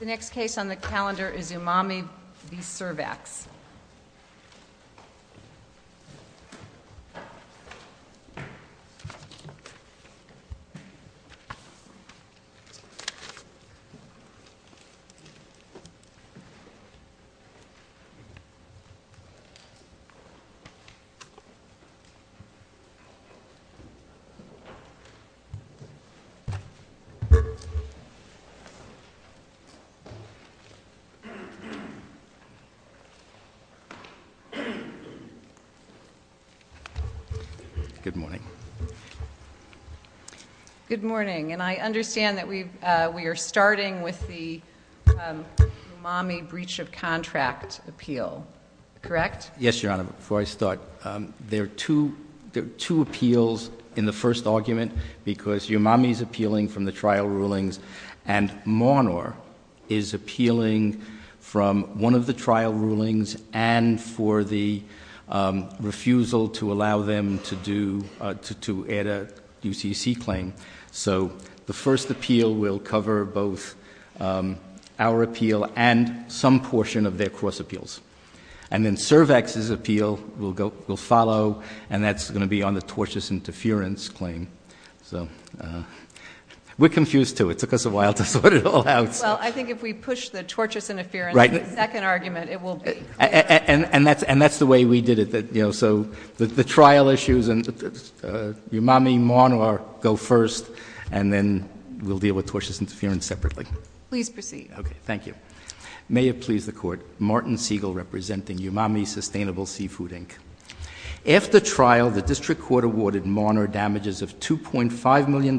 The next case on the calendar is Umami v. Cervax. Good morning, and I understand that we are starting with the Umami breach of contract appeal, correct? Yes, Your Honor. Before I start, there are two appeals in the first argument because Umami is appealing from the trial rulings, and Monor is appealing from one of the trial rulings and for the refusal to allow them to do, to add a UCC claim. So the first appeal will cover both our appeal and some portion of their cross appeals. And then Cervax's appeal will go, will follow, and that's going to be on the tortious interference claim. So we're confused, too. It took us a while to sort it all out. Well, I think if we push the tortious interference in the second argument, it will be. And that's the way we did it, you know, so the trial issues and Umami-Monor go first, and then we'll deal with tortious interference separately. Please proceed. Okay, thank you. May it please the Court, Martin Siegel representing Umami Sustainable Seafood, Inc. After trial, the district court awarded Monor damages of $2.5 million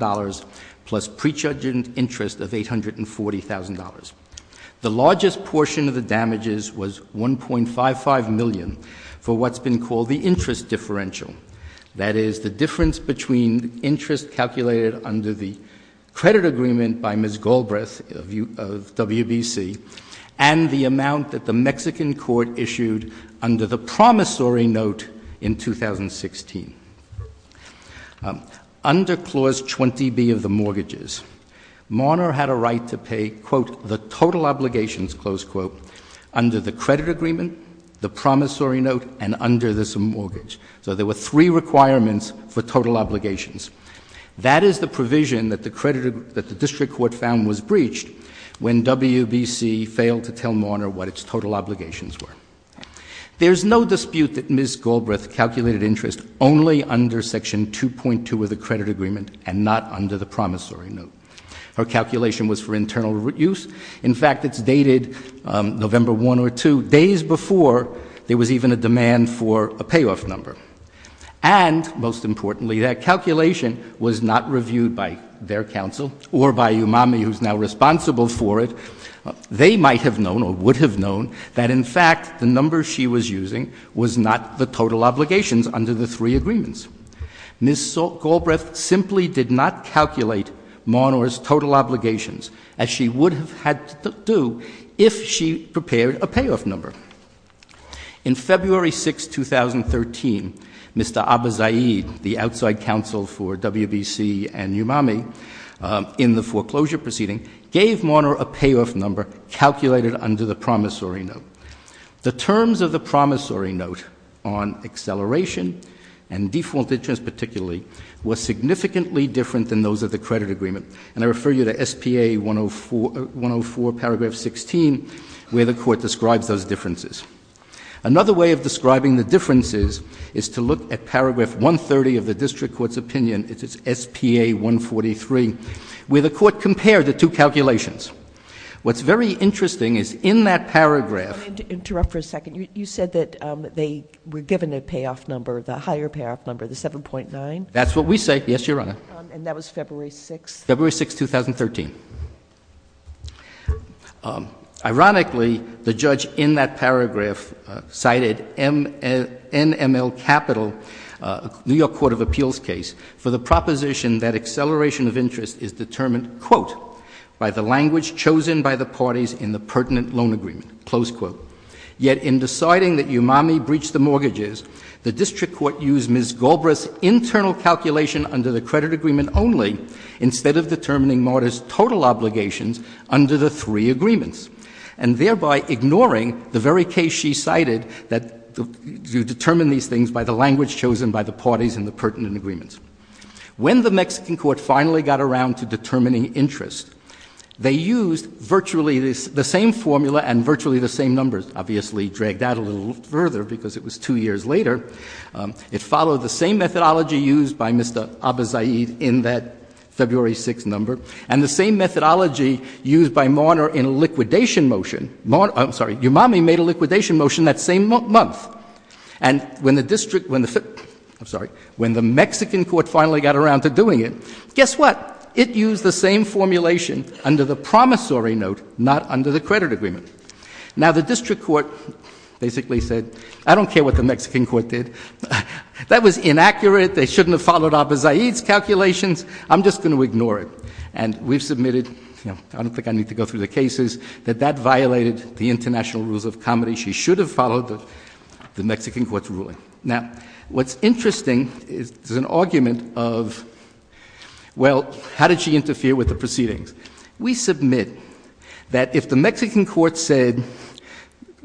plus prejudged interest of $840,000. The largest portion of the damages was $1.55 million for what's been called the interest differential, that is, the difference between interest calculated under the credit agreement by Ms. Galbraith of WBC and the amount that the Mexican court issued under the promissory note in 2016. Under Clause 20B of the mortgages, Monor had a right to pay, quote, the total obligations, close quote, under the credit agreement, the promissory note, and under this mortgage. So there were three requirements for total obligations. That is the provision that the district court found was breached when WBC failed to tell Monor what its total obligations were. There's no dispute that Ms. Galbraith calculated interest only under Section 2.2 of the credit agreement and not under the promissory note. Her calculation was for internal use. In fact, it's dated November 1 or 2, days before there was even a demand for a payoff number. And, most importantly, that calculation was not reviewed by their counsel or by Umami, who's now responsible for it. They might have known or would have known that, in fact, the number she was using was not the total obligations under the three agreements. Ms. Galbraith simply did not calculate Monor's total obligations as she would have had to do if she prepared a payoff number. In February 6, 2013, Mr. Abizaid, the outside counsel for WBC and Umami, in the foreclosure proceeding, gave Monor a payoff number calculated under the promissory note. The terms of the promissory note on acceleration and default interest, particularly, were significantly different than those of the credit agreement, and I refer you to SPA 104 paragraph 16, where the court describes those differences. Another way of describing the differences is to look at paragraph 130 of the district court's opinion. It's SPA 143, where the court compared the two calculations. What's very interesting is in that paragraph... I'm going to interrupt for a second. You said that they were given a payoff number, the higher payoff number, the 7.9? That's what we say. Yes, Your Honor. And that was February 6? February 6, 2013. Ironically, the judge in that paragraph cited NML Capital, New York Court of Appeals case, for the proposition that acceleration of interest is determined, quote, by the language chosen by the parties in the pertinent loan agreement, close quote. Yet in deciding that Umami breached the mortgages, the district court used Ms. Galbraith's credit agreement only instead of determining mortgages' total obligations under the three agreements, and thereby ignoring the very case she cited that you determine these things by the language chosen by the parties in the pertinent agreements. When the Mexican court finally got around to determining interest, they used virtually the same formula and virtually the same numbers, obviously dragged out a little further because it was two years later. It followed the same methodology used by Mr. Abizaid in that February 6 number, and the same methodology used by Marner in a liquidation motion, I'm sorry, Umami made a liquidation motion that same month. And when the district, I'm sorry, when the Mexican court finally got around to doing it, guess what? It used the same formulation under the promissory note, not under the credit agreement. Now the district court basically said, I don't care what the Mexican court did. That was inaccurate. They shouldn't have followed Abizaid's calculations. I'm just going to ignore it. And we've submitted, I don't think I need to go through the cases, that that violated the international rules of comedy. She should have followed the Mexican court's ruling. Now what's interesting is there's an argument of, well, how did she interfere with the proceedings? We submit that if the Mexican court said,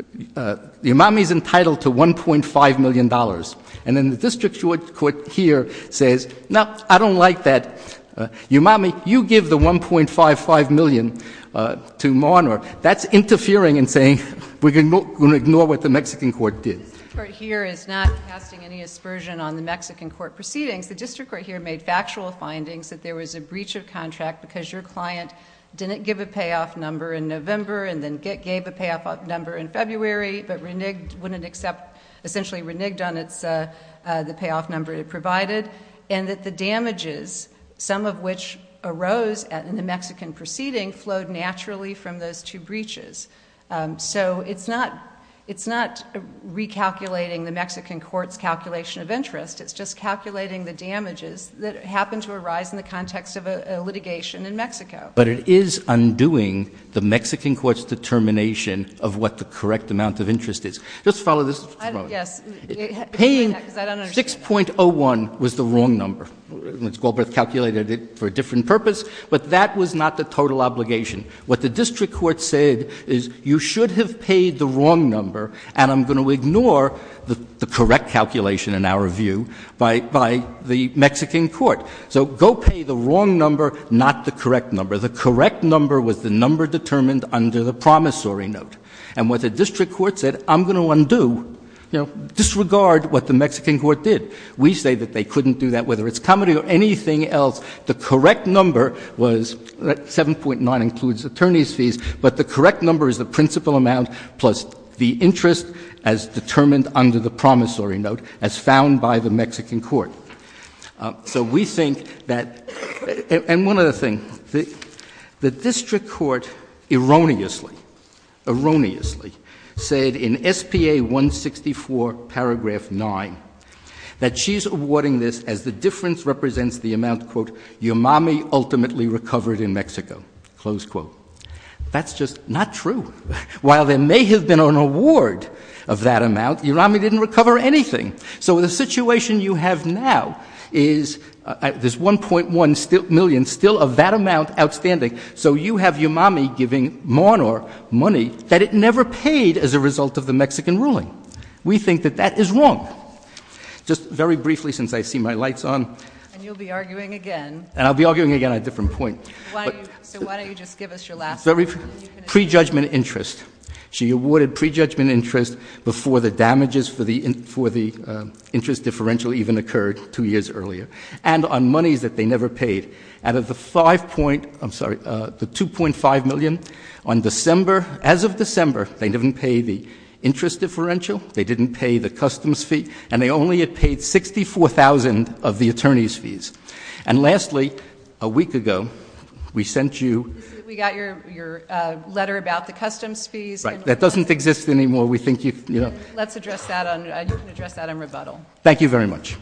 Umami's entitled to $1.5 million, and then the district court here says, no, I don't like that, Umami, you give the $1.55 million to Marner, that's interfering in saying we're going to ignore what the Mexican court did. The district court here is not casting any aspersion on the Mexican court proceedings. The district court here made factual findings that there was a breach of contract because your client didn't give a payoff number in November and then gave a payoff number in February, but essentially reneged on the payoff number it provided, and that the damages, some of which arose in the Mexican proceeding, flowed naturally from those two breaches. So it's not recalculating the Mexican court's calculation of interest. It's just calculating the damages that happened to arise in the context of a litigation in Mexico. But it is undoing the Mexican court's determination of what the correct amount of interest is. Just follow this. Yes. Paying 6.01 was the wrong number. Ms. Galbraith calculated it for a different purpose, but that was not the total obligation. What the district court said is, you should have paid the wrong number, and I'm going to ignore the correct calculation, in our view, by the Mexican court. So go pay the wrong number, not the correct number. The correct number was the number determined under the promissory note. And what the district court said, I'm going to undo, you know, disregard what the Mexican court did. We say that they couldn't do that, whether it's comedy or anything else. The correct number was 7.9 includes attorney's fees, but the correct number is the principal amount plus the interest as determined under the promissory note as found by the Mexican court. So we think that, and one other thing, the district court erroneously, erroneously said in SPA 164 paragraph 9, that she's awarding this as the difference represents the amount quote, your mommy ultimately recovered in Mexico, close quote. That's just not true. While there may have been an award of that amount, your mommy didn't recover anything. So the situation you have now is there's 1.1 million still of that amount outstanding. So you have your mommy giving mon or money that it never paid as a result of the Mexican ruling. We think that that is wrong. Just very briefly, since I see my lights on, and you'll be arguing again, and I'll be arguing again on a different point. So why don't you just give us your last pre-judgment interest. She awarded pre-judgment interest before the damages for the interest differential even occurred two years earlier. And on monies that they never paid, out of the 5 point, I'm sorry, the 2.5 million, on December, as of December, they didn't pay the interest differential, they didn't pay the customs fee, and they only had paid 64,000 of the attorney's fees. And lastly, a week ago, we sent you- Right. That doesn't exist anymore. We think you- Let's address that. You can address that in rebuttal. Thank you very much.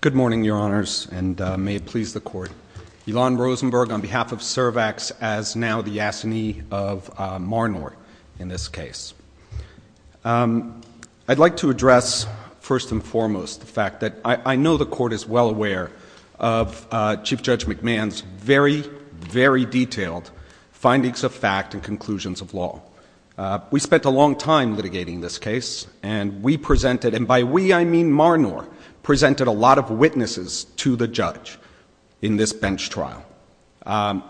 Good morning, your honors, and may it please the court. Ilan Rosenberg on behalf of Cervax, as now the Yassini of Marnor, in this case. I'd like to address, first and foremost, the fact that I know the court is well aware of Chief Judge McMahon's very, very detailed findings of fact and conclusions of law. We spent a long time litigating this case, and we presented, and by we, I mean Marnor, presented a lot of witnesses to the judge in this bench trial.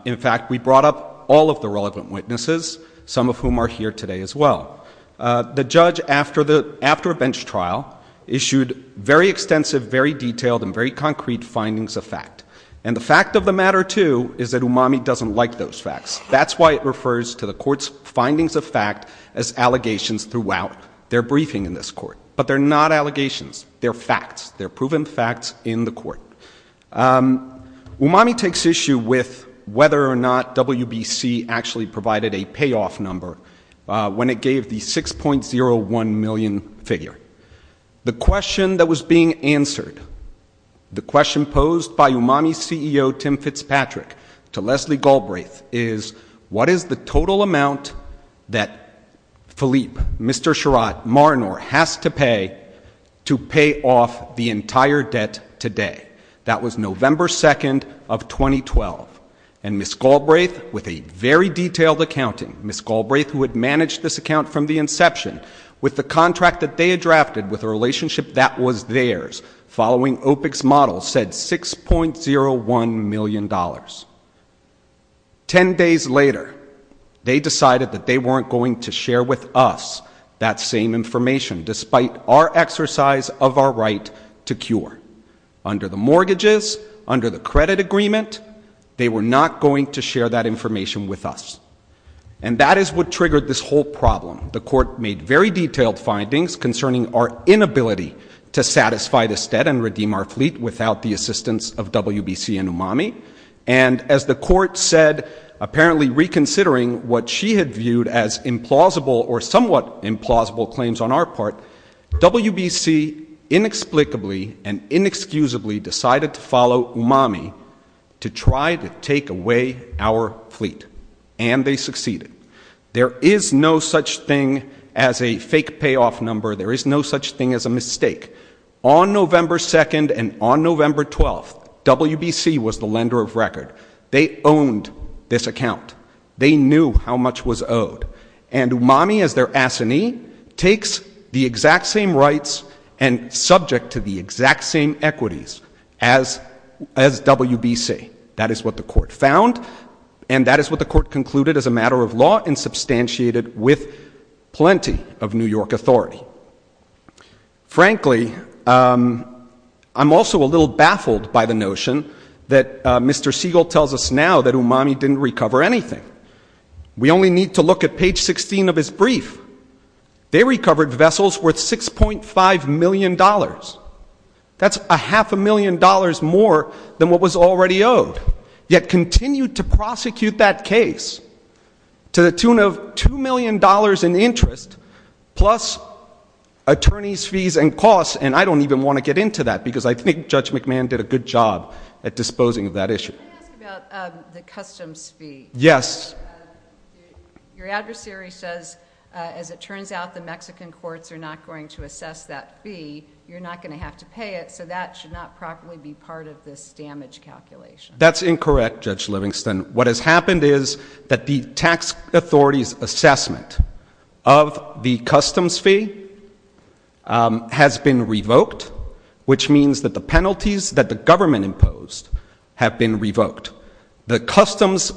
In fact, we brought up all of the relevant witnesses, some of whom are here today as well. The judge, after a bench trial, issued very extensive, very detailed, and very concrete findings of fact. And the fact of the matter, too, is that Umami doesn't like those facts. That's why it refers to the court's findings of fact as allegations throughout their briefing in this court. But they're not allegations. They're facts. They're proven facts in the court. Umami takes issue with whether or not WBC actually provided a payoff number when it gave the 6.01 million figure. The question that was being answered, the question posed by Umami CEO Tim Fitzpatrick to Leslie Galbraith is, what is the total amount that Philippe, Mr. Sherrod, Marnor has to pay to pay off the entire debt today? That was November 2nd of 2012. And Ms. Galbraith, with a very detailed accounting, Ms. Galbraith, who had managed this account from the inception, with the contract that they had drafted with a relationship that was theirs, following OPEC's model, said $6.01 million. Ten days later, they decided that they weren't going to share with us that same information, despite our exercise of our right to cure. Under the mortgages, under the credit agreement, they were not going to share that information with us. And that is what triggered this whole problem. The court made very detailed findings concerning our inability to satisfy this debt and redeem our fleet without the assistance of WBC and Umami. And as the court said, apparently reconsidering what she had viewed as implausible or somewhat implausible claims on our part, WBC inexplicably and inexcusably decided to follow Umami to try to take away our fleet. And they succeeded. There is no such thing as a fake payoff number. There is no such thing as a mistake. On November 2nd and on November 12th, WBC was the lender of record. They owned this account. They knew how much was owed. And Umami, as their assignee, takes the exact same rights and subject to the exact same equities as WBC. That is what the court found. And that is what the court concluded as a matter of law and substantiated with plenty of New York authority. Frankly, I'm also a little baffled by the notion that Mr. Siegel tells us now that Umami didn't recover anything. We only need to look at page 16 of his brief. They recovered vessels worth $6.5 million. That's a half a million dollars more than what was already owed, yet continued to prosecute that case to the tune of $2 million in interest plus attorney's fees and costs. And I don't even want to get into that because I think Judge McMahon did a good job at disposing of that issue. Can I ask about the customs fee? Yes. Your adversary says, as it turns out, the Mexican courts are not going to assess that fee. You're not going to have to pay it. So that should not properly be part of this damage calculation. That's incorrect, Judge Livingston. What has happened is that the tax authority's assessment of the customs fee has been revoked, which means that the penalties that the government imposed have been revoked. The customs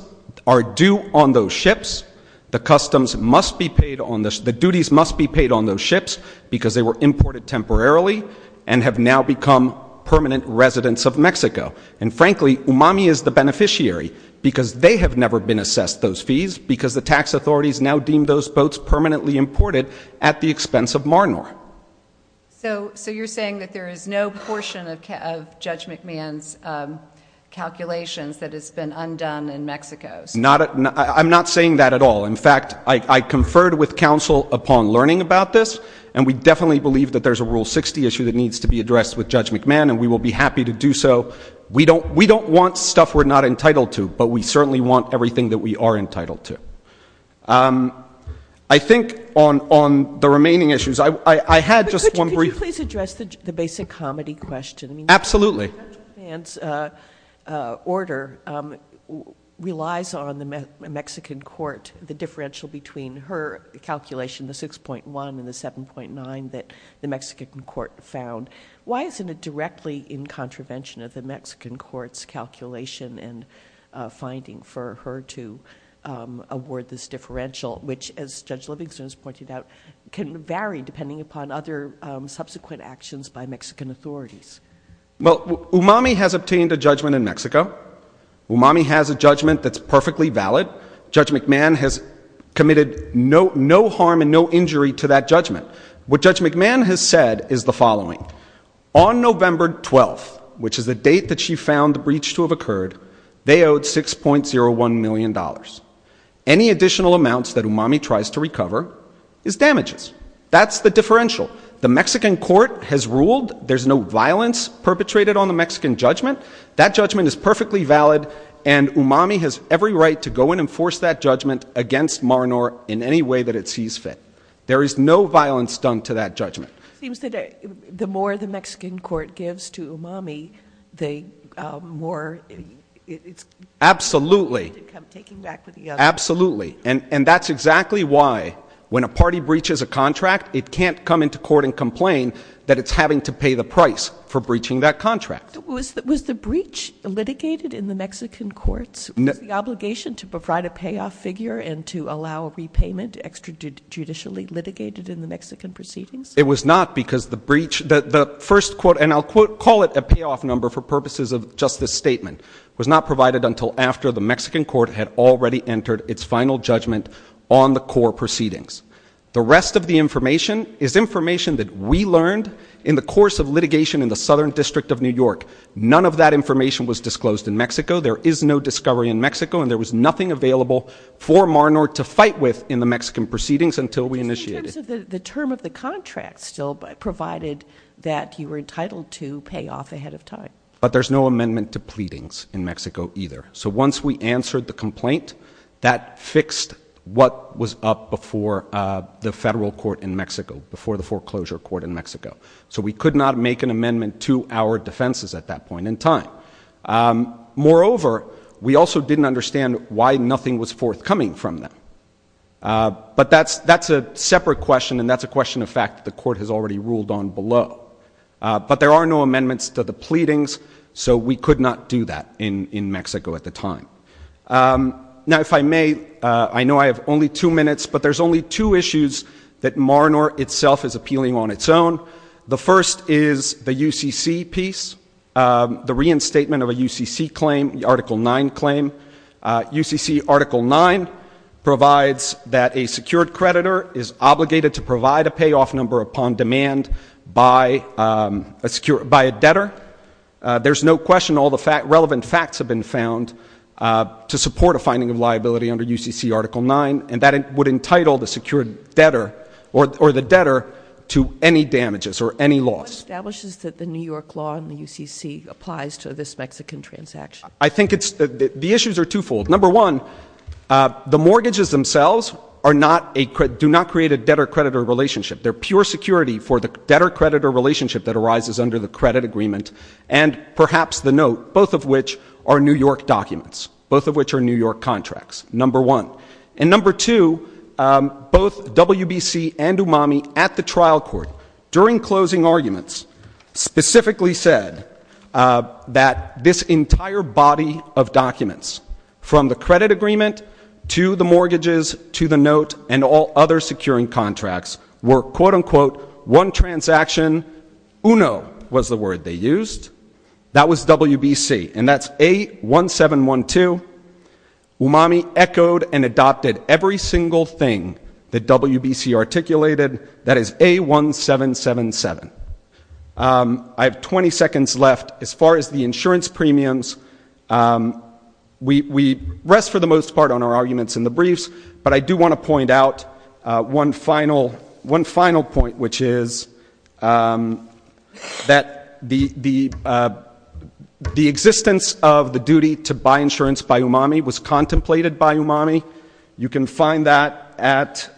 are due on those ships. The duties must be paid on those ships because they were imported temporarily and have now become permanent residents of Mexico. And frankly, UMAMI is the beneficiary because they have never been assessed those fees because the tax authorities now deem those boats permanently imported at the expense of Marnor. So you're saying that there is no portion of Judge McMahon's calculations that has been undone in Mexico? I'm not saying that at all. In fact, I conferred with counsel upon learning about this, and we definitely believe that there's a Rule 60 issue that needs to be addressed with Judge McMahon, and we will be happy to do so. We don't want stuff we're not entitled to, but we certainly want everything that we are entitled to. I think on the remaining issues, I had just one brief— Could you please address the basic comedy question? Absolutely. Judge McMahon's order relies on the Mexican court, the differential between her calculation, the 6.1, and the 7.9 that the Mexican court found. Why isn't it directly in contravention of the Mexican court's calculation and finding for her to award this differential, which, as Judge Livingston has pointed out, can vary depending upon other subsequent actions by Mexican authorities? Well, Umami has obtained a judgment in Mexico. Umami has a judgment that's perfectly valid. Judge McMahon has committed no harm and no injury to that judgment. What Judge McMahon has said is the following. On November 12th, which is the date that she found the breach to have occurred, they owed $6.01 million. Any additional amounts that Umami tries to recover is damages. That's the differential. The Mexican court has ruled there's no violence perpetrated on the Mexican judgment. That judgment is perfectly valid, and Umami has every right to go and enforce that judgment against Mar-a-Nor in any way that it sees fit. There is no violence done to that judgment. It seems that the more the Mexican court gives to Umami, the more it's— Absolutely. —taken back with the other. Absolutely. And that's exactly why, when a party breaches a contract, it can't come into court and complain that it's having to pay the price for breaching that contract. Was the breach litigated in the Mexican courts? Was the obligation to provide a payoff figure and to allow a repayment extrajudicially litigated in the Mexican proceedings? It was not because the breach—the first quote, and I'll call it a payoff number for purposes of just this statement, was not provided until after the Mexican court had already issued a final judgment on the core proceedings. The rest of the information is information that we learned in the course of litigation in the Southern District of New York. None of that information was disclosed in Mexico. There is no discovery in Mexico, and there was nothing available for Mar-a-Nor to fight with in the Mexican proceedings until we initiated— In terms of the term of the contract still provided that you were entitled to pay off ahead of time. But there's no amendment to pleadings in Mexico either. So once we answered the complaint, that fixed what was up before the federal court in Mexico, before the foreclosure court in Mexico. So we could not make an amendment to our defenses at that point in time. Moreover, we also didn't understand why nothing was forthcoming from them. But that's a separate question, and that's a question of fact that the court has already ruled on below. But there are no amendments to the pleadings, so we could not do that in Mexico at the time. Now if I may, I know I have only two minutes, but there's only two issues that Mar-a-Nor itself is appealing on its own. The first is the UCC piece, the reinstatement of a UCC claim, the Article 9 claim. UCC Article 9 provides that a secured creditor is obligated to provide a payoff number upon demand by a debtor. There's no question all the relevant facts have been found to support a finding of liability under UCC Article 9, and that would entitle the secured debtor or the debtor to any damages or any loss. What establishes that the New York law and the UCC applies to this Mexican transaction? I think the issues are twofold. Number one, the mortgages themselves do not create a debtor-creditor relationship. They're pure security for the debtor-creditor relationship that arises under the credit agreement and perhaps the note, both of which are New York documents, both of which are New York contracts, number one. And number two, both WBC and UMAMI at the trial court during closing arguments specifically said that this entire body of documents from the credit agreement to the mortgages to the quote-unquote one transaction, UNO was the word they used. That was WBC, and that's A1712. UMAMI echoed and adopted every single thing that WBC articulated. That is A1777. I have 20 seconds left. As far as the insurance premiums, we rest for the most part on our arguments in the final point, which is that the existence of the duty to buy insurance by UMAMI was contemplated by UMAMI. You can find that at,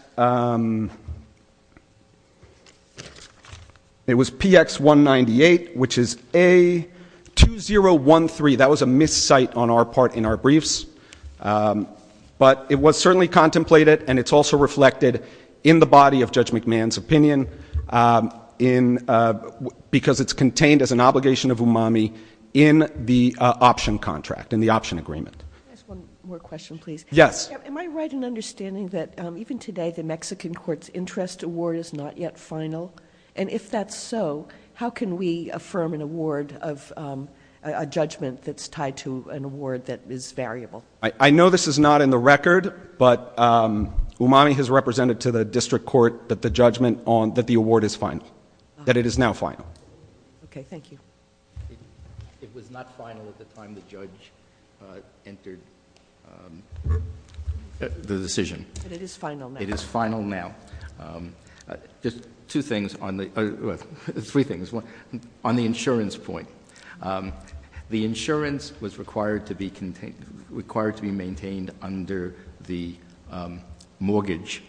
it was PX198, which is A2013. That was a miscite on our part in our briefs. But it was certainly contemplated and it's also reflected in the body of Judge McMahon's opinion because it's contained as an obligation of UMAMI in the option contract, in the option agreement. Can I ask one more question, please? Yes. Am I right in understanding that even today the Mexican court's interest award is not yet final? And if that's so, how can we affirm an award of a judgment that's tied to an award that is variable? I know this is not in the record, but UMAMI has represented to the district court that the judgment on, that the award is final, that it is now final. Okay. Thank you. It was not final at the time the judge entered the decision. But it is final now. It is final now. Just two things on the, well, three things. On the insurance point, the insurance was required to be contained, required to be maintained under the mortgage.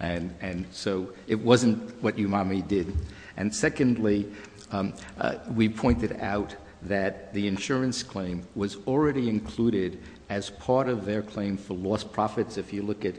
And so it wasn't what UMAMI did. And secondly, we pointed out that the insurance claim was already included as part of their claim for lost profits. If you look at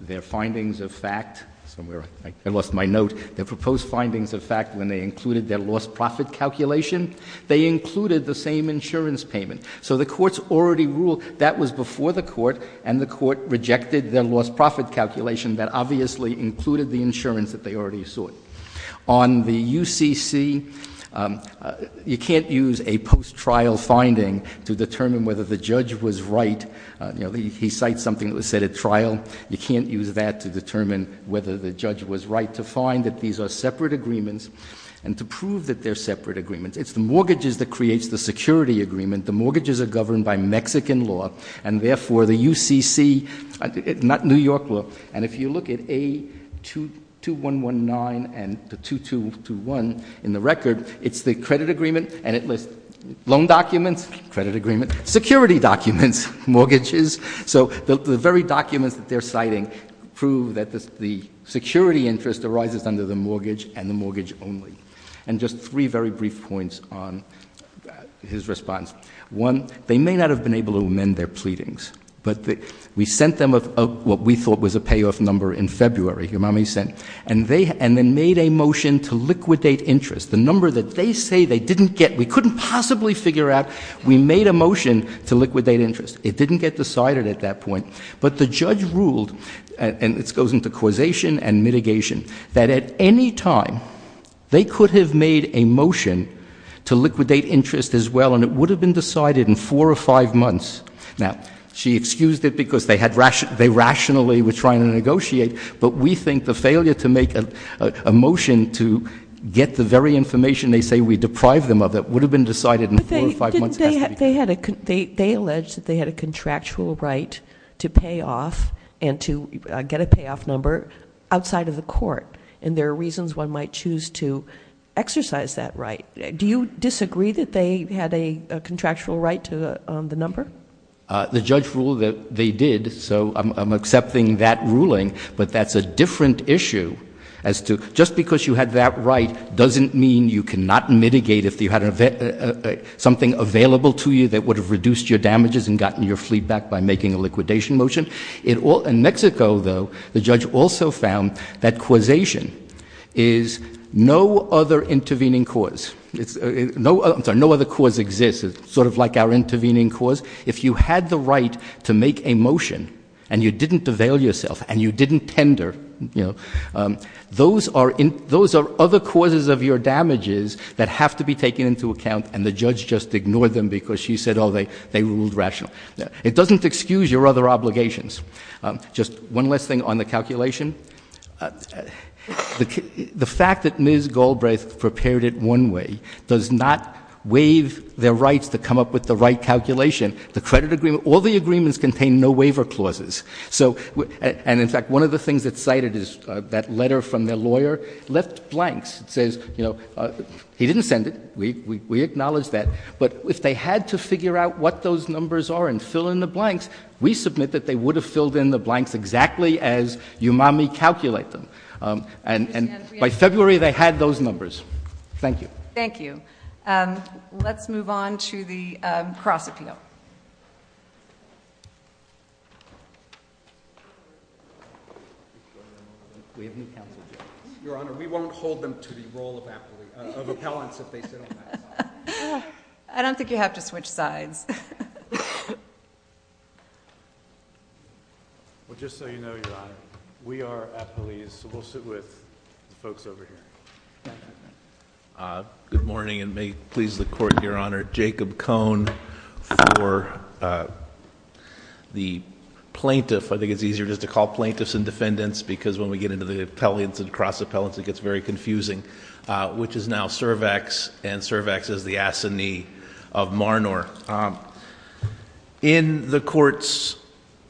their findings of fact, somewhere I lost my note, their proposed findings of fact when they included their lost profit calculation, they included the same insurance payment. So the courts already ruled that was before the court, and the court rejected their lost profit calculation that obviously included the insurance that they already sought. On the UCC, you can't use a post-trial finding to determine whether the judge was right. He cites something that was set at trial. You can't use that to determine whether the judge was right to find that these are separate agreements and to prove that they're separate agreements. It's the mortgages that creates the security agreement. The mortgages are governed by Mexican law, and therefore the UCC, not New York law, and if you look at A2119 and the 2221 in the record, it's the credit agreement, and it lists loan documents, credit agreement, security documents, mortgages. So the very documents that they're citing prove that the security interest arises under the mortgage and the mortgage only. And just three very brief points on his response. One, they may not have been able to amend their pleadings, but we sent them what we thought was a payoff number in February, and then made a motion to liquidate interest. The number that they say they didn't get, we couldn't possibly figure out, we made a motion to liquidate interest. It didn't get decided at that point, but the judge ruled, and this goes into causation and mitigation, that at any time, they could have made a motion to liquidate interest as well, and it would have been decided in four or five months. Now, she excused it because they rationally were trying to negotiate, but we think the failure to make a motion to get the very information they say we deprive them of, that would have been decided in four or five months, has to be- They alleged that they had a contractual right to pay off and to get a payoff number outside of the court, and there are reasons one might choose to exercise that right. Do you disagree that they had a contractual right to the number? The judge ruled that they did, so I'm accepting that ruling, but that's a different issue as to just because you had that right doesn't mean you cannot make a motion available to you that would have reduced your damages and gotten your fleet back by making a liquidation motion. In Mexico, though, the judge also found that causation is no other intervening cause. I'm sorry, no other cause exists. It's sort of like our intervening cause. If you had the right to make a motion and you didn't avail yourself and you didn't tender, you know, those are other causes of your damages that have to be taken into account, and the judge just ignored them because she said, oh, they ruled rational. It doesn't excuse your other obligations. Just one last thing on the calculation. The fact that Ms. Galbraith prepared it one way does not waive their rights to come up with the right calculation. The credit agreement, all the agreements contain no waiver clauses. And, in fact, one of the things that's cited is that letter from their lawyer left blanks. It says, you know, he didn't send it. We acknowledge that. But if they had to figure out what those numbers are and fill in the blanks, we submit that they would have filled in the blanks exactly as you mommy calculate them. And by February they had those numbers. Thank you. Thank you. Let's move on to the cross appeal. We have new counsel judges. Your Honor, we won't hold them to the role of appellants if they sit on that side. I don't think you have to switch sides. Well, just so you know, Your Honor, we are appellees, so we'll sit with the folks over here. Good morning, and may it please the Court, Your Honor. Jacob Cohn for the plaintiff. I think it's easier just to call plaintiffs and defendants because when we get into the appellants and cross appellants it gets very confusing, which is now Cervax. And Cervax is the assinee of Marnor. In the court's,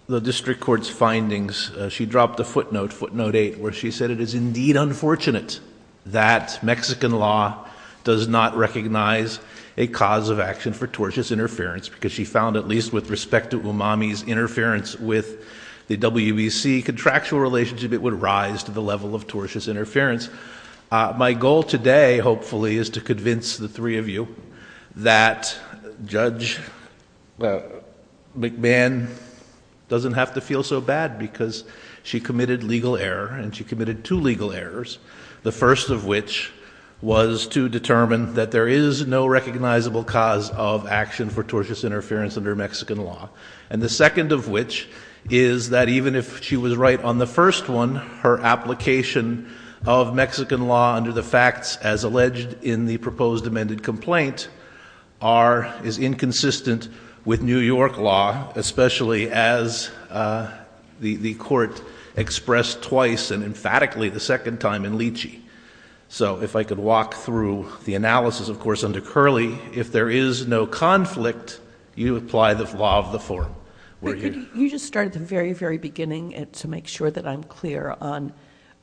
the district court's findings, she dropped a footnote, footnote eight, where she said it is indeed unfortunate that Mexican law does not recognize a cause of action for tortious interference because she found at least with respect to Umami's interference with the WBC contractual relationship it would rise to the level of tortious interference. My goal today, hopefully, is to convince the three of you that Judge McMahon doesn't have to feel so bad because she committed legal error, and she committed two legal errors, the first of which was to determine that there is no recognizable cause of action for tortious interference under Mexican law. And the second of which is that even if she was right on the first one, her application of Mexican law under the facts as alleged in the proposed amended complaint is inconsistent with New York law, especially as the court expressed twice and emphatically the second time in Leachy. So if I could walk through the analysis, of course, under Curley. If there is no conflict, you apply the law of the forum. You just start at the very, very beginning to make sure that I'm clear on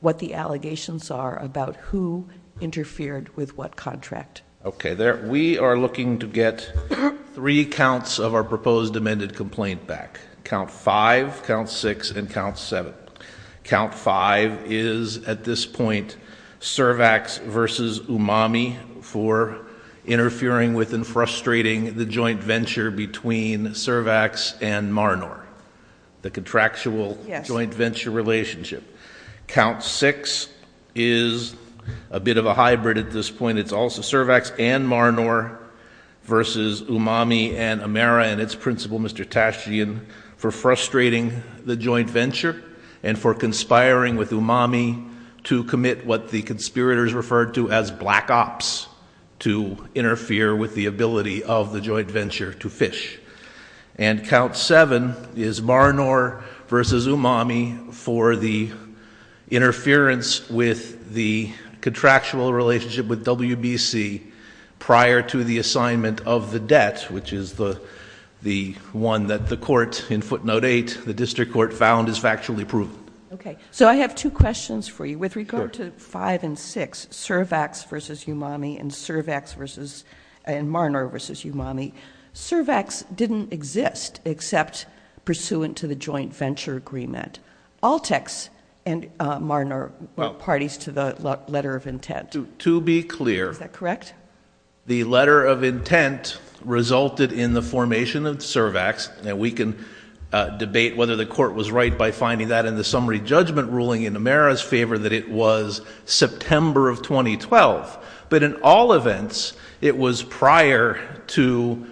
what the allegations are about who interfered with what contract. Okay, we are looking to get three counts of our proposed amended complaint back. Count five, count six, and count seven. Count five is, at this point, Cervax versus Umami for interfering with and frustrating the joint venture between Cervax and Marnor, the contractual joint venture relationship. Count six is a bit of a hybrid at this point. And it's also Cervax and Marnor versus Umami and Amera and its principal, Mr. Tashian, for frustrating the joint venture and for conspiring with Umami to commit what the conspirators referred to as black ops to interfere with the ability of the joint venture to fish. And count seven is Marnor versus Umami for the interference with the contractual relationship with WBC prior to the assignment of the debt, which is the one that the court in footnote eight, the district court found is factually proven. Okay, so I have two questions for you. With regard to five and six, Cervax versus Umami and Marnor versus Umami, Cervax didn't exist except pursuant to the joint venture agreement. Altex and Marnor were parties to the letter of intent. To be clear... Is that correct? The letter of intent resulted in the formation of Cervax, and we can debate whether the court was right by finding that in the summary judgment ruling in Amera's favor that it was September of 2012. But in all events, it was prior to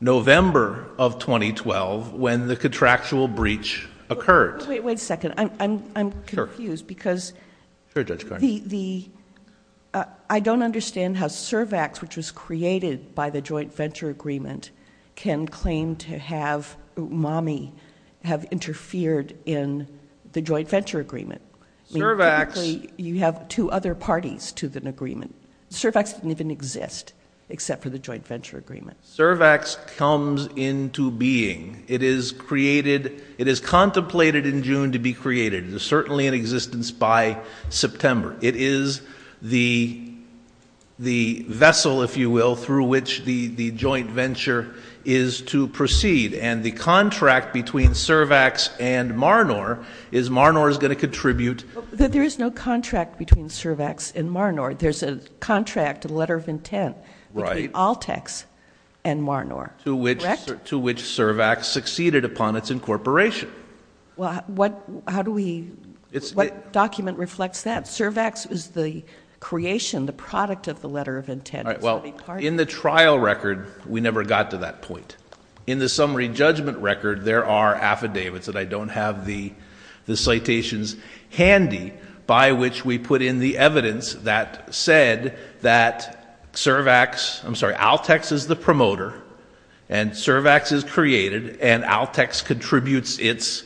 November of 2012 when the contractual breach occurred. Wait a second. I'm confused because I don't understand how Cervax, which was created by the joint venture agreement, can claim to have Umami have interfered in the joint venture agreement. Cervax... You have two other parties to the agreement. Cervax didn't even exist except for the joint venture agreement. Cervax comes into being. It is contemplated in June to be created. It is certainly in existence by September. It is the vessel, if you will, through which the joint venture is to proceed. And the contract between Cervax and Marnor is Marnor is going to contribute... There is no contract between Cervax and Marnor. There's a contract, a letter of intent, between Altex and Marnor. Correct? To which Cervax succeeded upon its incorporation. Well, how do we... What document reflects that? Cervax is the creation, the product of the letter of intent. Well, in the trial record, we never got to that point. In the summary judgment record, there are affidavits that I don't have the citations handy by which we put in the evidence that said that Cervax... I'm sorry, Altex is the promoter, and Cervax is created, and Altex contributes its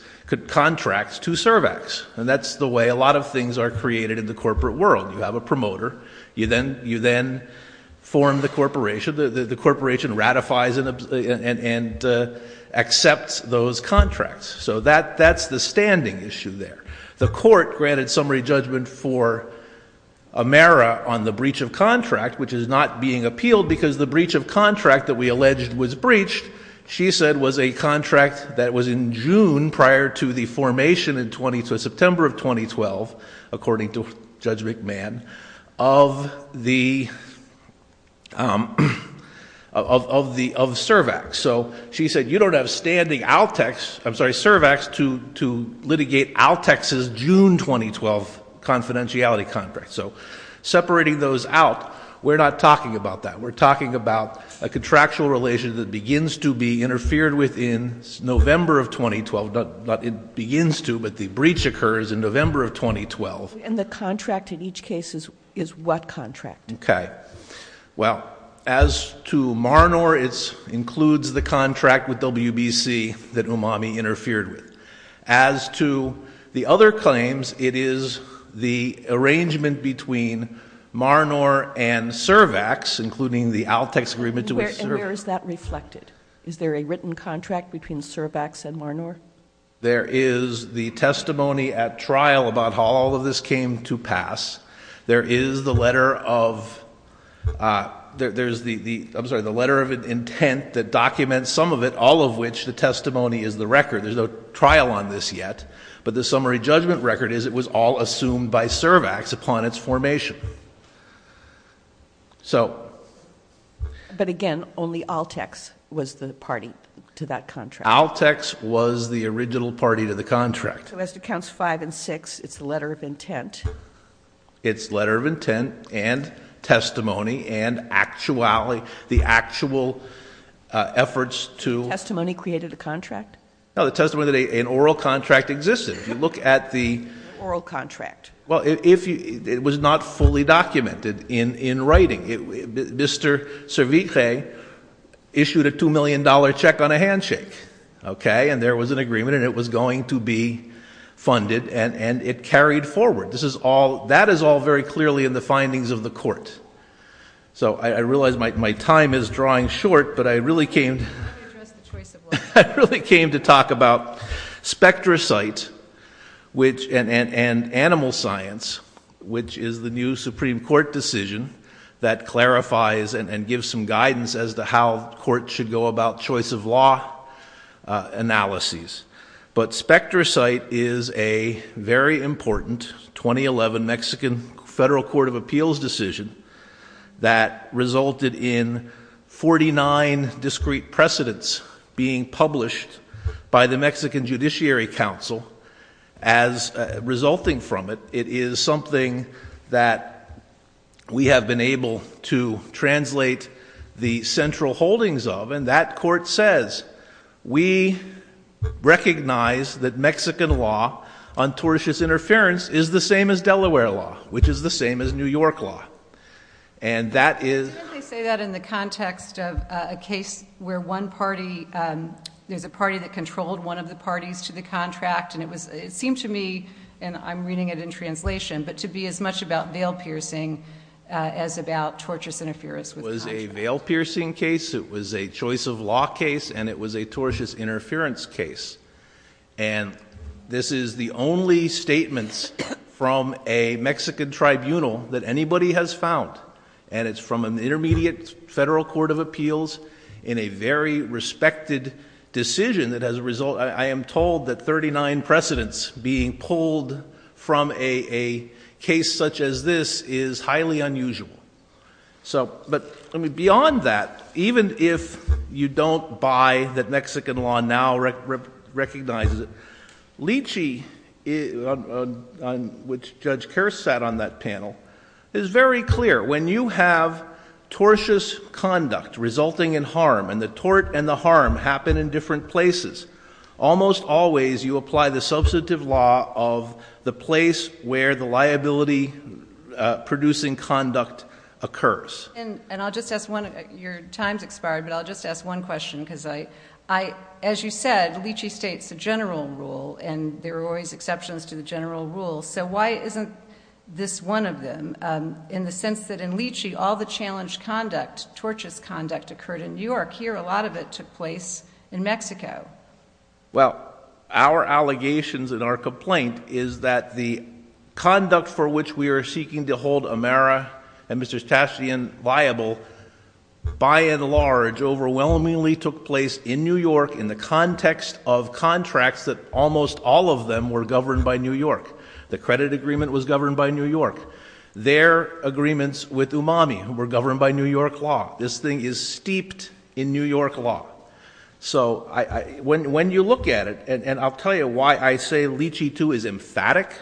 contracts to Cervax. And that's the way a lot of things are created in the corporate world. You have a promoter. You then form the corporation. The corporation ratifies and accepts those contracts. So that's the standing issue there. The court granted summary judgment for Amera on the breach of contract, which is not being appealed because the breach of contract that we alleged was breached, she said was a contract that was in June prior to the formation in September of 2012, according to Judge McMahon, of the... of Cervax. So she said you don't have standing Altex... I'm sorry, Cervax... to litigate Altex's June 2012 confidentiality contract. So separating those out, we're not talking about that. We're talking about a contractual relation that begins to be interfered with in November of 2012. It begins to, but the breach occurs in November of 2012. And the contract in each case is what contract? Okay. Well, as to Marnor, it includes the contract with WBC that Umami interfered with. As to the other claims, it is the arrangement between Marnor and Cervax, including the Altex agreement to which Cervax... And where is that reflected? Is there a written contract between Cervax and Marnor? There is the testimony at trial about how all of this came to pass. There is the letter of... I'm sorry, the letter of intent that documents some of it, all of which the testimony is the record. There's no trial on this yet. But the summary judgment record is it was all assumed by Cervax upon its formation. So... But again, only Altex was the party to that contract. Altex was the original party to the contract. So as to counts five and six, it's the letter of intent. It's letter of intent and testimony and the actual efforts to... Testimony created a contract? No, the testimony that an oral contract existed. If you look at the... Oral contract. Well, it was not fully documented in writing. Mr. Serviget issued a $2 million check on a handshake, okay? And there was an agreement, and it was going to be funded, and it carried forward. That is all very clearly in the findings of the court. So I realize my time is drawing short, but I really came... Let me address the choice of law. I really came to talk about spectrocyte and animal science, which is the new Supreme Court decision that clarifies and gives some guidance as to how courts should go about choice of law analyses. But spectrocyte is a very important 2011 Mexican Federal Court of Appeals decision that resulted in forty-nine discrete precedents being published by the Mexican Judiciary Council. As resulting from it, it is something that we have been able to translate the central holdings of, and that court says, we recognize that Mexican law on tortious interference is the same as Delaware law, which is the same as New York law. And that is... Didn't they say that in the context of a case where one party... There's a party that controlled one of the parties to the contract, and it seemed to me, and I'm reading it in translation, but to be as much about veil-piercing as about tortious interference with the contract. It was a veil-piercing case, it was a choice of law case, and it was a tortious interference case. And this is the only statements from a Mexican tribunal that anybody has found, and it's from an intermediate federal court of appeals, in a very respected decision that has a result... I am told that thirty-nine precedents being pulled from a case such as this is highly unusual. So, but, I mean, beyond that, even if you don't buy that Mexican law now recognizes it, which Judge Kerr sat on that panel, is very clear. When you have tortious conduct resulting in harm, and the tort and the harm happen in different places, almost always you apply the substantive law of the place where the liability-producing conduct occurs. And I'll just ask one... Your time's expired, but I'll just ask one question, because I... There are always exceptions to the general rule, so why isn't this one of them? In the sense that in Lychee, all the challenged conduct, tortious conduct, occurred in New York. Here, a lot of it took place in Mexico. Well, our allegations and our complaint is that the conduct for which we are seeking to hold Amara and Mr. Statian viable, by and large, overwhelmingly took place in New York in the context of contracts that almost all of them were governed by New York. The credit agreement was governed by New York. Their agreements with Umami were governed by New York law. This thing is steeped in New York law. So, when you look at it, and I'll tell you why I say Lychee II is emphatic,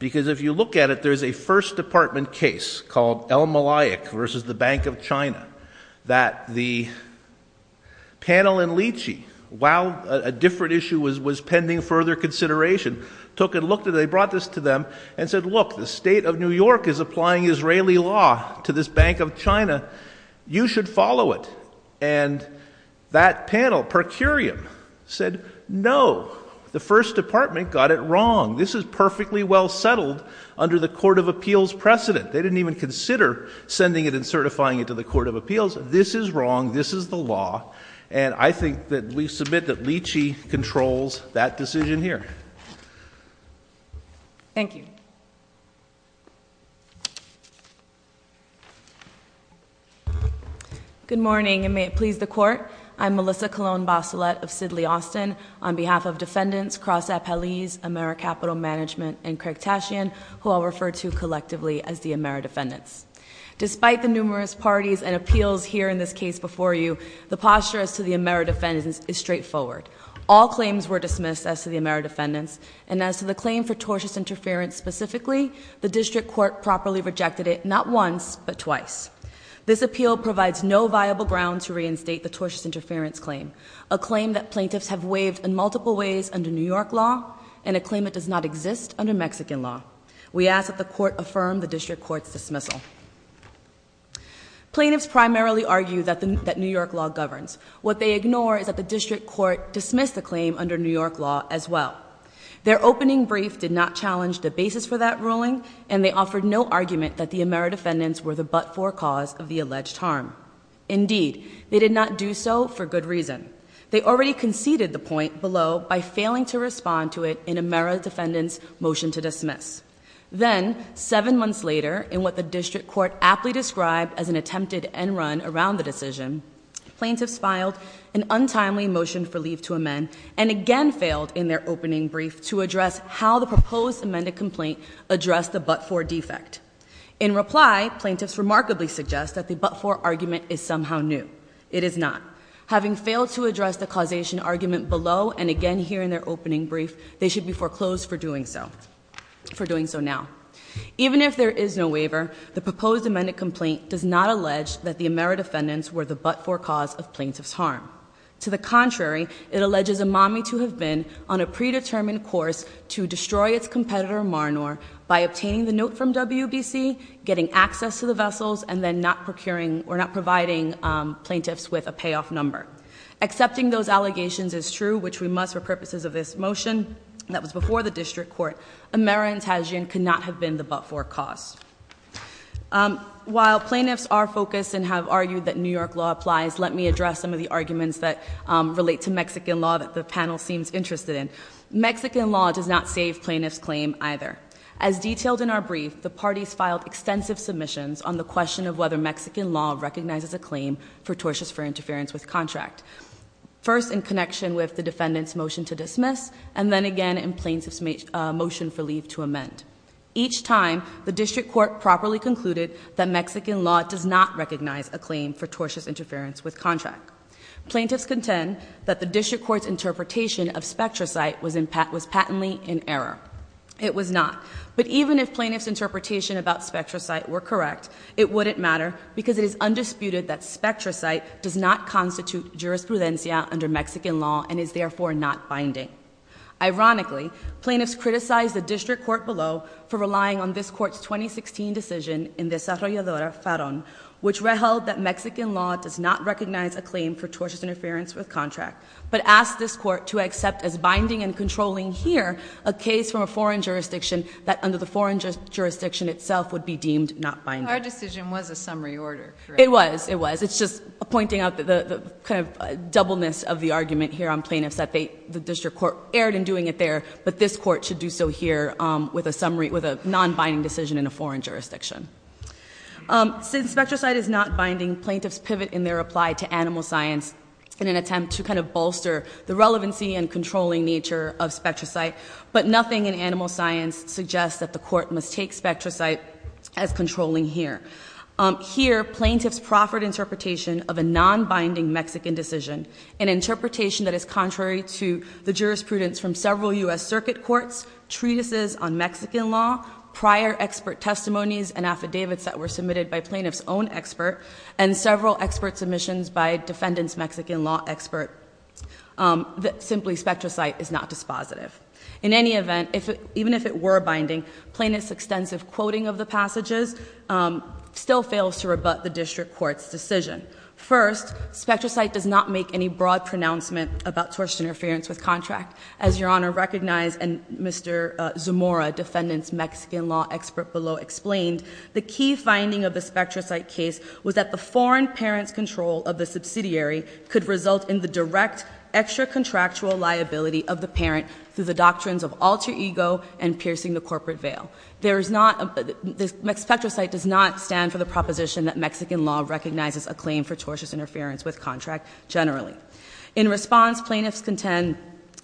because if you look at it, there's a First Department case called El Malayik versus the Bank of China that the panel in Lychee, while a different issue was pending further consideration, took a look and they brought this to them and said, Look, the state of New York is applying Israeli law to this Bank of China. You should follow it. And that panel, per curiam, said, No. The First Department got it wrong. This is perfectly well settled under the Court of Appeals precedent. They didn't even consider sending it and certifying it to the Court of Appeals. This is wrong. This is the law. And I think that we submit that Lychee controls that decision here. Thank you. Good morning, and may it please the Court. I'm Melissa Colon-Basilet of Sidley Austin. On behalf of defendants, Cross Appellees, AmeriCapital Management, and Craig Tashian, who I'll refer to collectively as the Ameri-Defendants. Despite the numerous parties and appeals here in this case before you, the posture as to the Ameri-Defendants is straightforward. All claims were dismissed as to the Ameri-Defendants, and as to the claim for tortious interference specifically, the district court properly rejected it not once, but twice. This appeal provides no viable ground to reinstate the tortious interference claim, a claim that plaintiffs have waived in multiple ways under New York law, and a claim that does not exist under Mexican law. We ask that the court affirm the district court's dismissal. Plaintiffs primarily argue that New York law governs. What they ignore is that the district court dismissed the claim under New York law as well. Their opening brief did not challenge the basis for that ruling, and they offered no argument that the Ameri-Defendants were the but-for cause of the alleged harm. Indeed, they did not do so for good reason. They already conceded the point below by failing to respond to it in Ameri-Defendants' motion to dismiss. Then, seven months later, in what the district court aptly described as an attempted end run around the decision, plaintiffs filed an untimely motion for leave to amend, and again failed in their opening brief to address how the proposed amended complaint addressed the but-for defect. In reply, plaintiffs remarkably suggest that the but-for argument is somehow new. It is not. Having failed to address the causation argument below, and again here in their opening brief, they should be foreclosed for doing so now. Even if there is no waiver, the proposed amended complaint does not allege that the Ameri-Defendants were the but-for cause of plaintiffs' harm. To the contrary, it alleges Imami to have been on a predetermined course to destroy its competitor, Maranor, by obtaining the note from WBC, getting access to the vessels, and then not providing plaintiffs with a payoff number. Accepting those allegations is true, which we must for purposes of this motion that was before the district court. Ameri-Tajian could not have been the but-for cause. While plaintiffs are focused and have argued that New York law applies, let me address some of the arguments that relate to Mexican law that the panel seems interested in. Mexican law does not save plaintiffs' claim either. As detailed in our brief, the parties filed extensive submissions on the question of whether Mexican law recognizes a claim for tortious interference with contract. First, in connection with the defendant's motion to dismiss, and then again in plaintiff's motion for leave to amend. Each time, the district court properly concluded that Mexican law does not recognize a claim for tortious interference with contract. Plaintiffs contend that the district court's interpretation of spectrocyte was patently in error. It was not. But even if plaintiffs' interpretation about spectrocyte were correct, it wouldn't matter, because it is undisputed that spectrocyte does not constitute jurisprudencia under Mexican law and is therefore not binding. Ironically, plaintiffs criticized the district court below for relying on this court's 2016 decision in Desarrolladora Farron, which held that Mexican law does not recognize a claim for tortious interference with contract, but asked this court to accept as binding and controlling here a case from a foreign jurisdiction that under the foreign jurisdiction itself would be deemed not binding. Our decision was a summary order, correct? It was. It was. It's just pointing out the kind of doubleness of the argument here on plaintiffs that the district court erred in doing it there, but this court should do so here with a non-binding decision in a foreign jurisdiction. Since spectrocyte is not binding, plaintiffs pivot in their reply to animal science in an attempt to kind of bolster the relevancy and controlling nature of spectrocyte, but nothing in animal science suggests that the court must take spectrocyte as controlling here. Here, plaintiffs proffered interpretation of a non-binding Mexican decision, an interpretation that is contrary to the jurisprudence from several U.S. circuit courts, treatises on Mexican law, prior expert testimonies and affidavits that were submitted by plaintiffs' own expert, and several expert submissions by defendants' Mexican law expert that simply spectrocyte is not dispositive. In any event, even if it were binding, plaintiffs' extensive quoting of the passages still fails to rebut the district court's decision. First, spectrocyte does not make any broad pronouncement about tortious interference with contract. As Your Honor recognized and Mr. Zamora, defendant's Mexican law expert below, explained, the key finding of the spectrocyte case was that the foreign parent's control of the subsidiary could result in the direct extra-contractual liability of the parent through the doctrines of alter ego and piercing the corporate veil. Spectrocyte does not stand for the proposition that Mexican law recognizes a claim for tortious interference with contract generally. In response, plaintiffs contend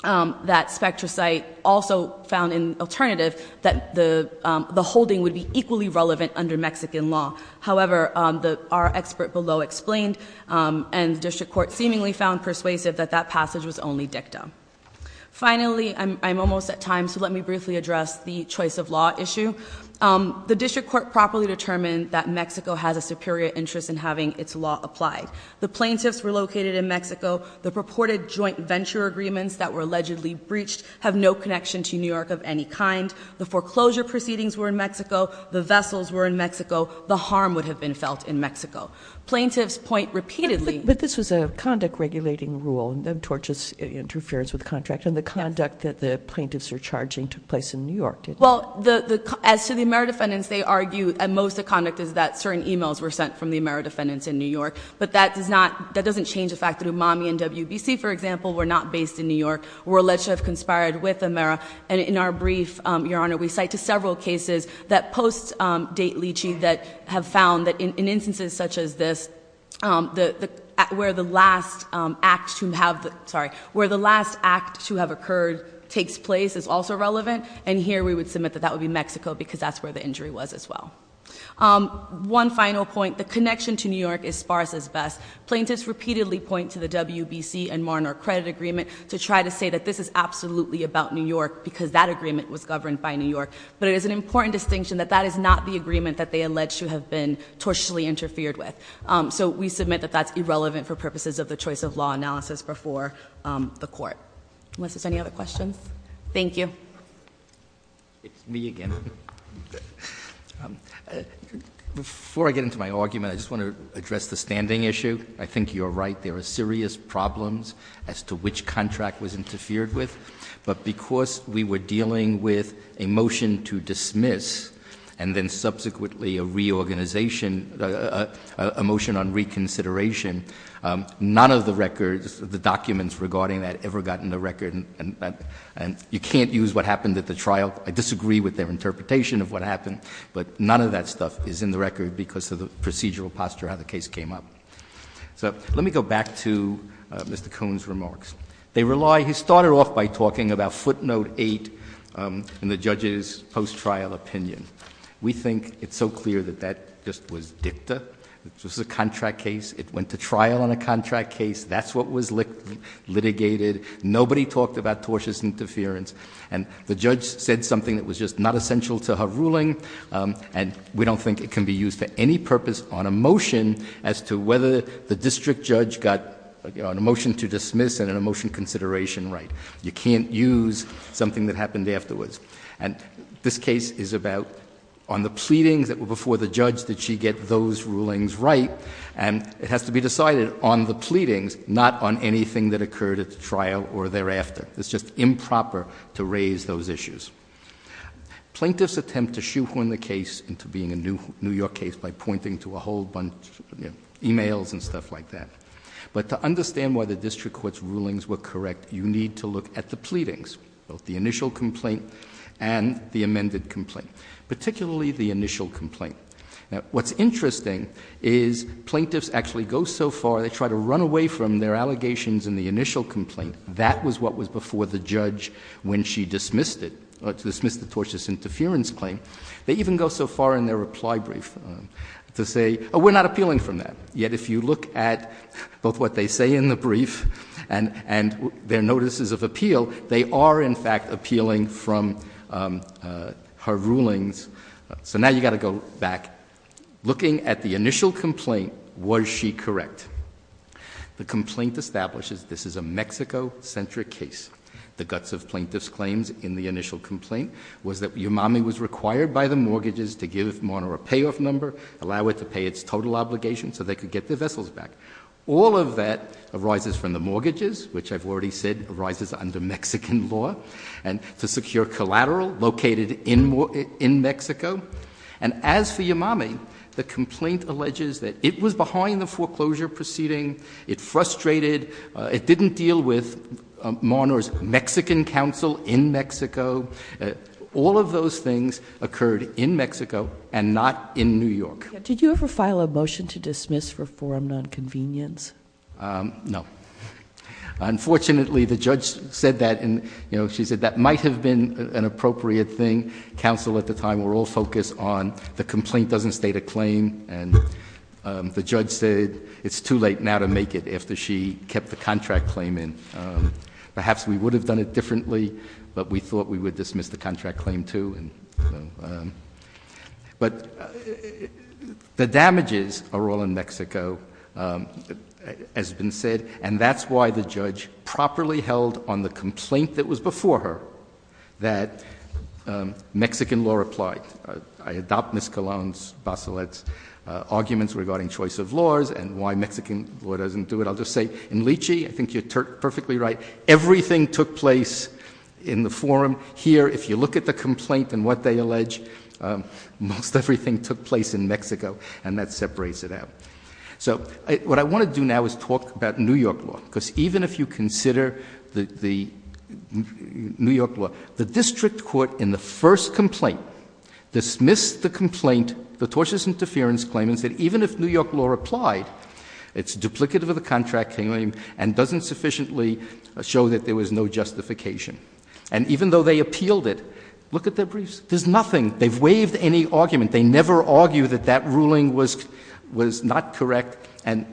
that spectrocyte also found an alternative that the holding would be equally relevant under Mexican law. However, our expert below explained and district court seemingly found persuasive that that passage was only dicta. Finally, I'm almost at time, so let me briefly address the choice of law issue. The district court properly determined that Mexico has a superior interest in having its law applied. The plaintiffs were located in Mexico. The purported joint venture agreements that were allegedly breached have no connection to New York of any kind. The foreclosure proceedings were in Mexico. The vessels were in Mexico. The harm would have been felt in Mexico. Plaintiffs point repeatedly- But this was a conduct regulating rule, the tortious interference with contract. Yes. Well, as to the Amera defendants, they argue that most of the conduct is that certain emails were sent from the Amera defendants in New York. But that doesn't change the fact that Umami and WBC, for example, were not based in New York, were allegedly conspired with Amera. And in our brief, Your Honor, we cite to several cases that post-date Leachy that have found that in instances such as this, where the last act to have occurred takes place is also relevant. And here we would submit that that would be Mexico because that's where the injury was as well. One final point. The connection to New York is sparse as best. Plaintiffs repeatedly point to the WBC and Marner credit agreement to try to say that this is absolutely about New York because that agreement was governed by New York. But it is an important distinction that that is not the agreement that they allege to have been tortiously interfered with. So we submit that that's irrelevant for purposes of the choice of law analysis before the court. Unless there's any other questions. Thank you. It's me again. Before I get into my argument, I just want to address the standing issue. I think you're right. There are serious problems as to which contract was interfered with. But because we were dealing with a motion to dismiss and then subsequently a reorganization, a motion on reconsideration, none of the records, the documents regarding that ever got in the record. And you can't use what happened at the trial. I disagree with their interpretation of what happened. But none of that stuff is in the record because of the procedural posture how the case came up. So let me go back to Mr. Coon's remarks. They rely, he started off by talking about footnote eight in the judge's post-trial opinion. We think it's so clear that that just was dicta. It was a contract case. It went to trial on a contract case. That's what was litigated. Nobody talked about tortious interference. And the judge said something that was just not essential to her ruling. And we don't think it can be used for any purpose on a motion as to whether the district judge got a motion to dismiss and a motion consideration right. You can't use something that happened afterwards. And this case is about on the pleadings that were before the judge, did she get those rulings right? And it has to be decided on the pleadings, not on anything that occurred at the trial or thereafter. It's just improper to raise those issues. Plaintiffs attempt to shoehorn the case into being a New York case by pointing to a whole bunch of emails and stuff like that. But to understand why the district court's rulings were correct, you need to look at the pleadings, both the initial complaint and the amended complaint, particularly the initial complaint. Now, what's interesting is plaintiffs actually go so far, they try to run away from their allegations in the initial complaint. That was what was before the judge when she dismissed it, dismissed the tortious interference claim. They even go so far in their reply brief to say, oh, we're not appealing from that. Yet if you look at both what they say in the brief and their notices of appeal, they are in fact appealing from her rulings. So now you've got to go back, looking at the initial complaint, was she correct? The complaint establishes this is a Mexico-centric case. The guts of plaintiffs' claims in the initial complaint was that Umami was required by the mortgages to give Marner a payoff number, allow it to pay its total obligation so they could get their vessels back. All of that arises from the mortgages, which I've already said arises under Mexican law, and to secure collateral located in Mexico. And as for Umami, the complaint alleges that it was behind the foreclosure proceeding, it frustrated, it didn't deal with Marner's Mexican counsel in Mexico. All of those things occurred in Mexico and not in New York. Did you ever file a motion to dismiss for forum nonconvenience? No. Unfortunately, the judge said that, and she said that might have been an appropriate thing. Counsel at the time were all focused on the complaint doesn't state a claim, and the judge said it's too late now to make it after she kept the contract claim in. Perhaps we would have done it differently, but we thought we would dismiss the contract claim too. But the damages are all in Mexico, as has been said, and that's why the judge properly held on the complaint that was before her that Mexican law applied. I adopt Ms. Colón's, Baselette's arguments regarding choice of laws and why Mexican law doesn't do it. I'll just say in Lychee, I think you're perfectly right, everything took place in the forum. Here, if you look at the complaint and what they allege, most everything took place in Mexico, and that separates it out. So what I want to do now is talk about New York law, because even if you consider the New York law, the district court in the first complaint dismissed the complaint, the tortious interference claim, and said even if New York law applied, it's duplicative of the contract claim and doesn't sufficiently show that there was no justification. And even though they appealed it, look at their briefs. There's nothing. They've waived any argument. They never argue that that ruling was not correct, and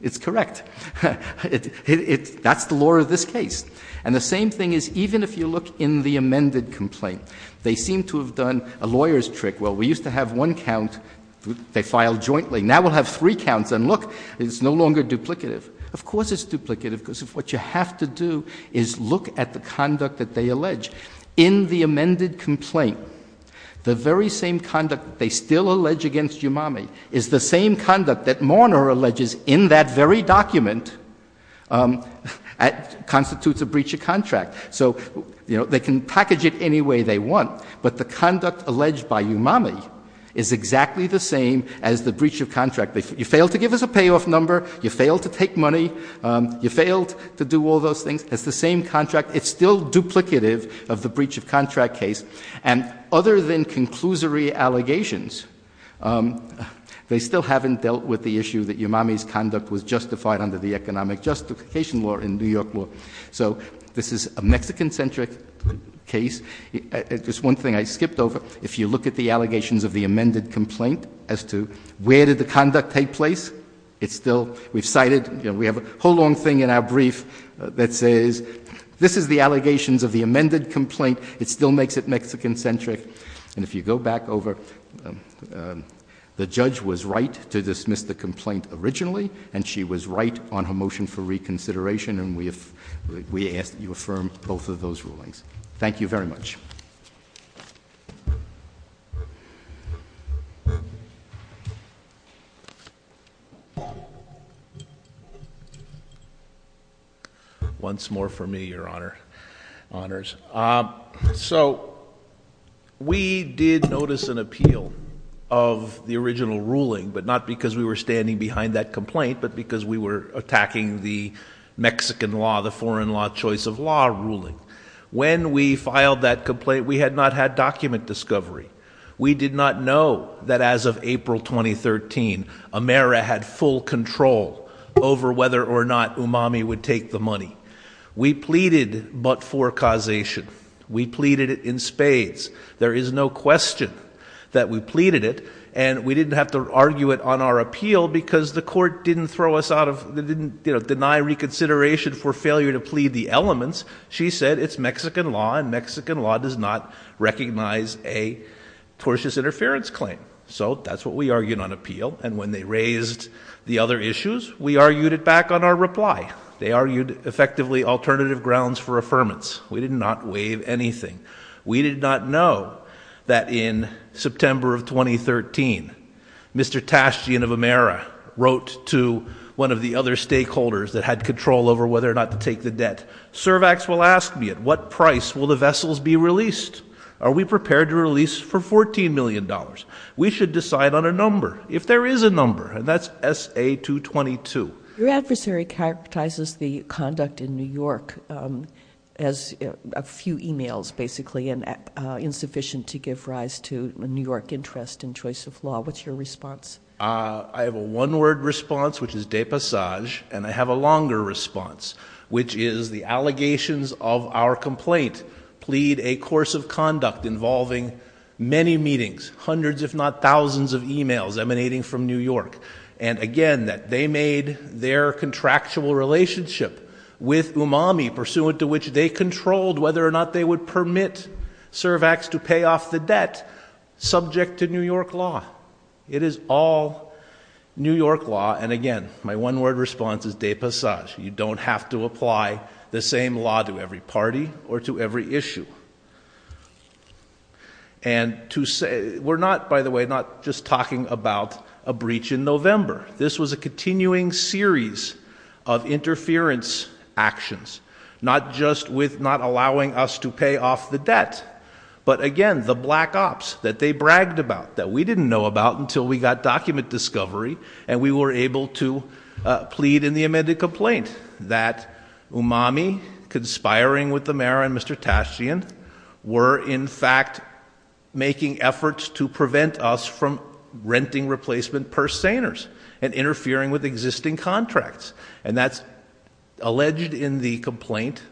it's correct. That's the law of this case. And the same thing is even if you look in the amended complaint, they seem to have done a lawyer's trick. Well, we used to have one count they filed jointly. Now we'll have three counts, and look, it's no longer duplicative. Of course it's duplicative, because what you have to do is look at the conduct that they allege. In the amended complaint, the very same conduct they still allege against Umami is the same conduct that Morner alleges in that very document constitutes a breach of contract. So they can package it any way they want, but the conduct alleged by Umami is exactly the same as the breach of contract. You failed to give us a payoff number. You failed to take money. You failed to do all those things. It's the same contract. It's still duplicative of the breach of contract case. And other than conclusory allegations, they still haven't dealt with the issue that Umami's conduct was justified under the economic justification law in New York law. So this is a Mexican-centric case. Just one thing I skipped over, if you look at the allegations of the amended complaint as to where did the conduct take place, it's still, we've cited, you know, we have a whole long thing in our brief that says, this is the allegations of the amended complaint. It still makes it Mexican-centric. And if you go back over, the judge was right to dismiss the complaint originally, and she was right on her motion for reconsideration, and we ask that you affirm both of those rulings. Thank you very much. Once more for me, Your Honor. Honors. So we did notice an appeal of the original ruling, but not because we were standing behind that complaint, but because we were attacking the Mexican law, the foreign law choice of law ruling. When we filed that complaint, we had not had document discovery. We did not know that as of April 2013, Amera had full control over whether or not Umami would take the money. We pleaded but for causation. We pleaded it in spades. There is no question that we pleaded it, and we didn't have to argue it on our appeal because the court didn't throw us out of, didn't deny reconsideration for failure to plead the elements. She said it's Mexican law, and Mexican law does not recognize a tortious interference claim. So that's what we argued on appeal, and when they raised the other issues, we argued it back on our reply. They argued effectively alternative grounds for affirmance. We did not waive anything. We did not know that in September of 2013, Mr. Tashtian of Amera wrote to one of the other stakeholders that had control over whether or not to take the debt. Servax will ask me, at what price will the vessels be released? Are we prepared to release for $14 million? We should decide on a number, if there is a number, and that's SA-222. Your adversary characterizes the conduct in New York as a few emails, basically, and insufficient to give rise to a New York interest in choice of law. What's your response? I have a one-word response, which is de passage, and I have a longer response, which is the allegations of our complaint plead a course of conduct involving many meetings, hundreds if not thousands of emails emanating from New York, and again, that they made their contractual relationship with Umami, pursuant to which they controlled whether or not they would permit Servax to pay off the debt, subject to New York law. It is all New York law, and again, my one-word response is de passage. You don't have to apply the same law to every party or to every issue. And to say, we're not, by the way, not just talking about a breach in November. This was a continuing series of interference actions, not just with not allowing us to pay off the debt, but again, the black ops that they bragged about, that we didn't know about until we got document discovery, and we were able to plead in the amended complaint that Umami, conspiring with the mayor and Mr. Tashian, were in fact making efforts to prevent us from renting replacement purse seiners and interfering with existing contracts. And that's alleged in the complaint,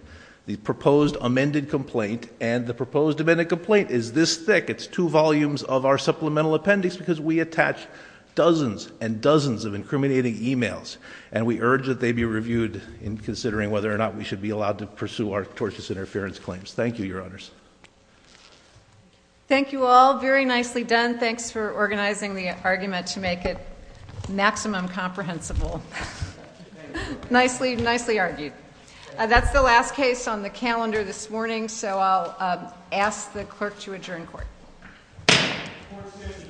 the proposed amended complaint, and the proposed amended complaint is this thick. It's two volumes of our supplemental appendix because we attach dozens and dozens of incriminating e-mails, and we urge that they be reviewed in considering whether or not we should be allowed to pursue our tortious interference claims. Thank you, Your Honors. Thank you all. Very nicely done. Thanks for organizing the argument to make it maximum comprehensible. Nicely argued. That's the last case on the calendar this morning, so I'll ask the clerk to adjourn court. Court is adjourned.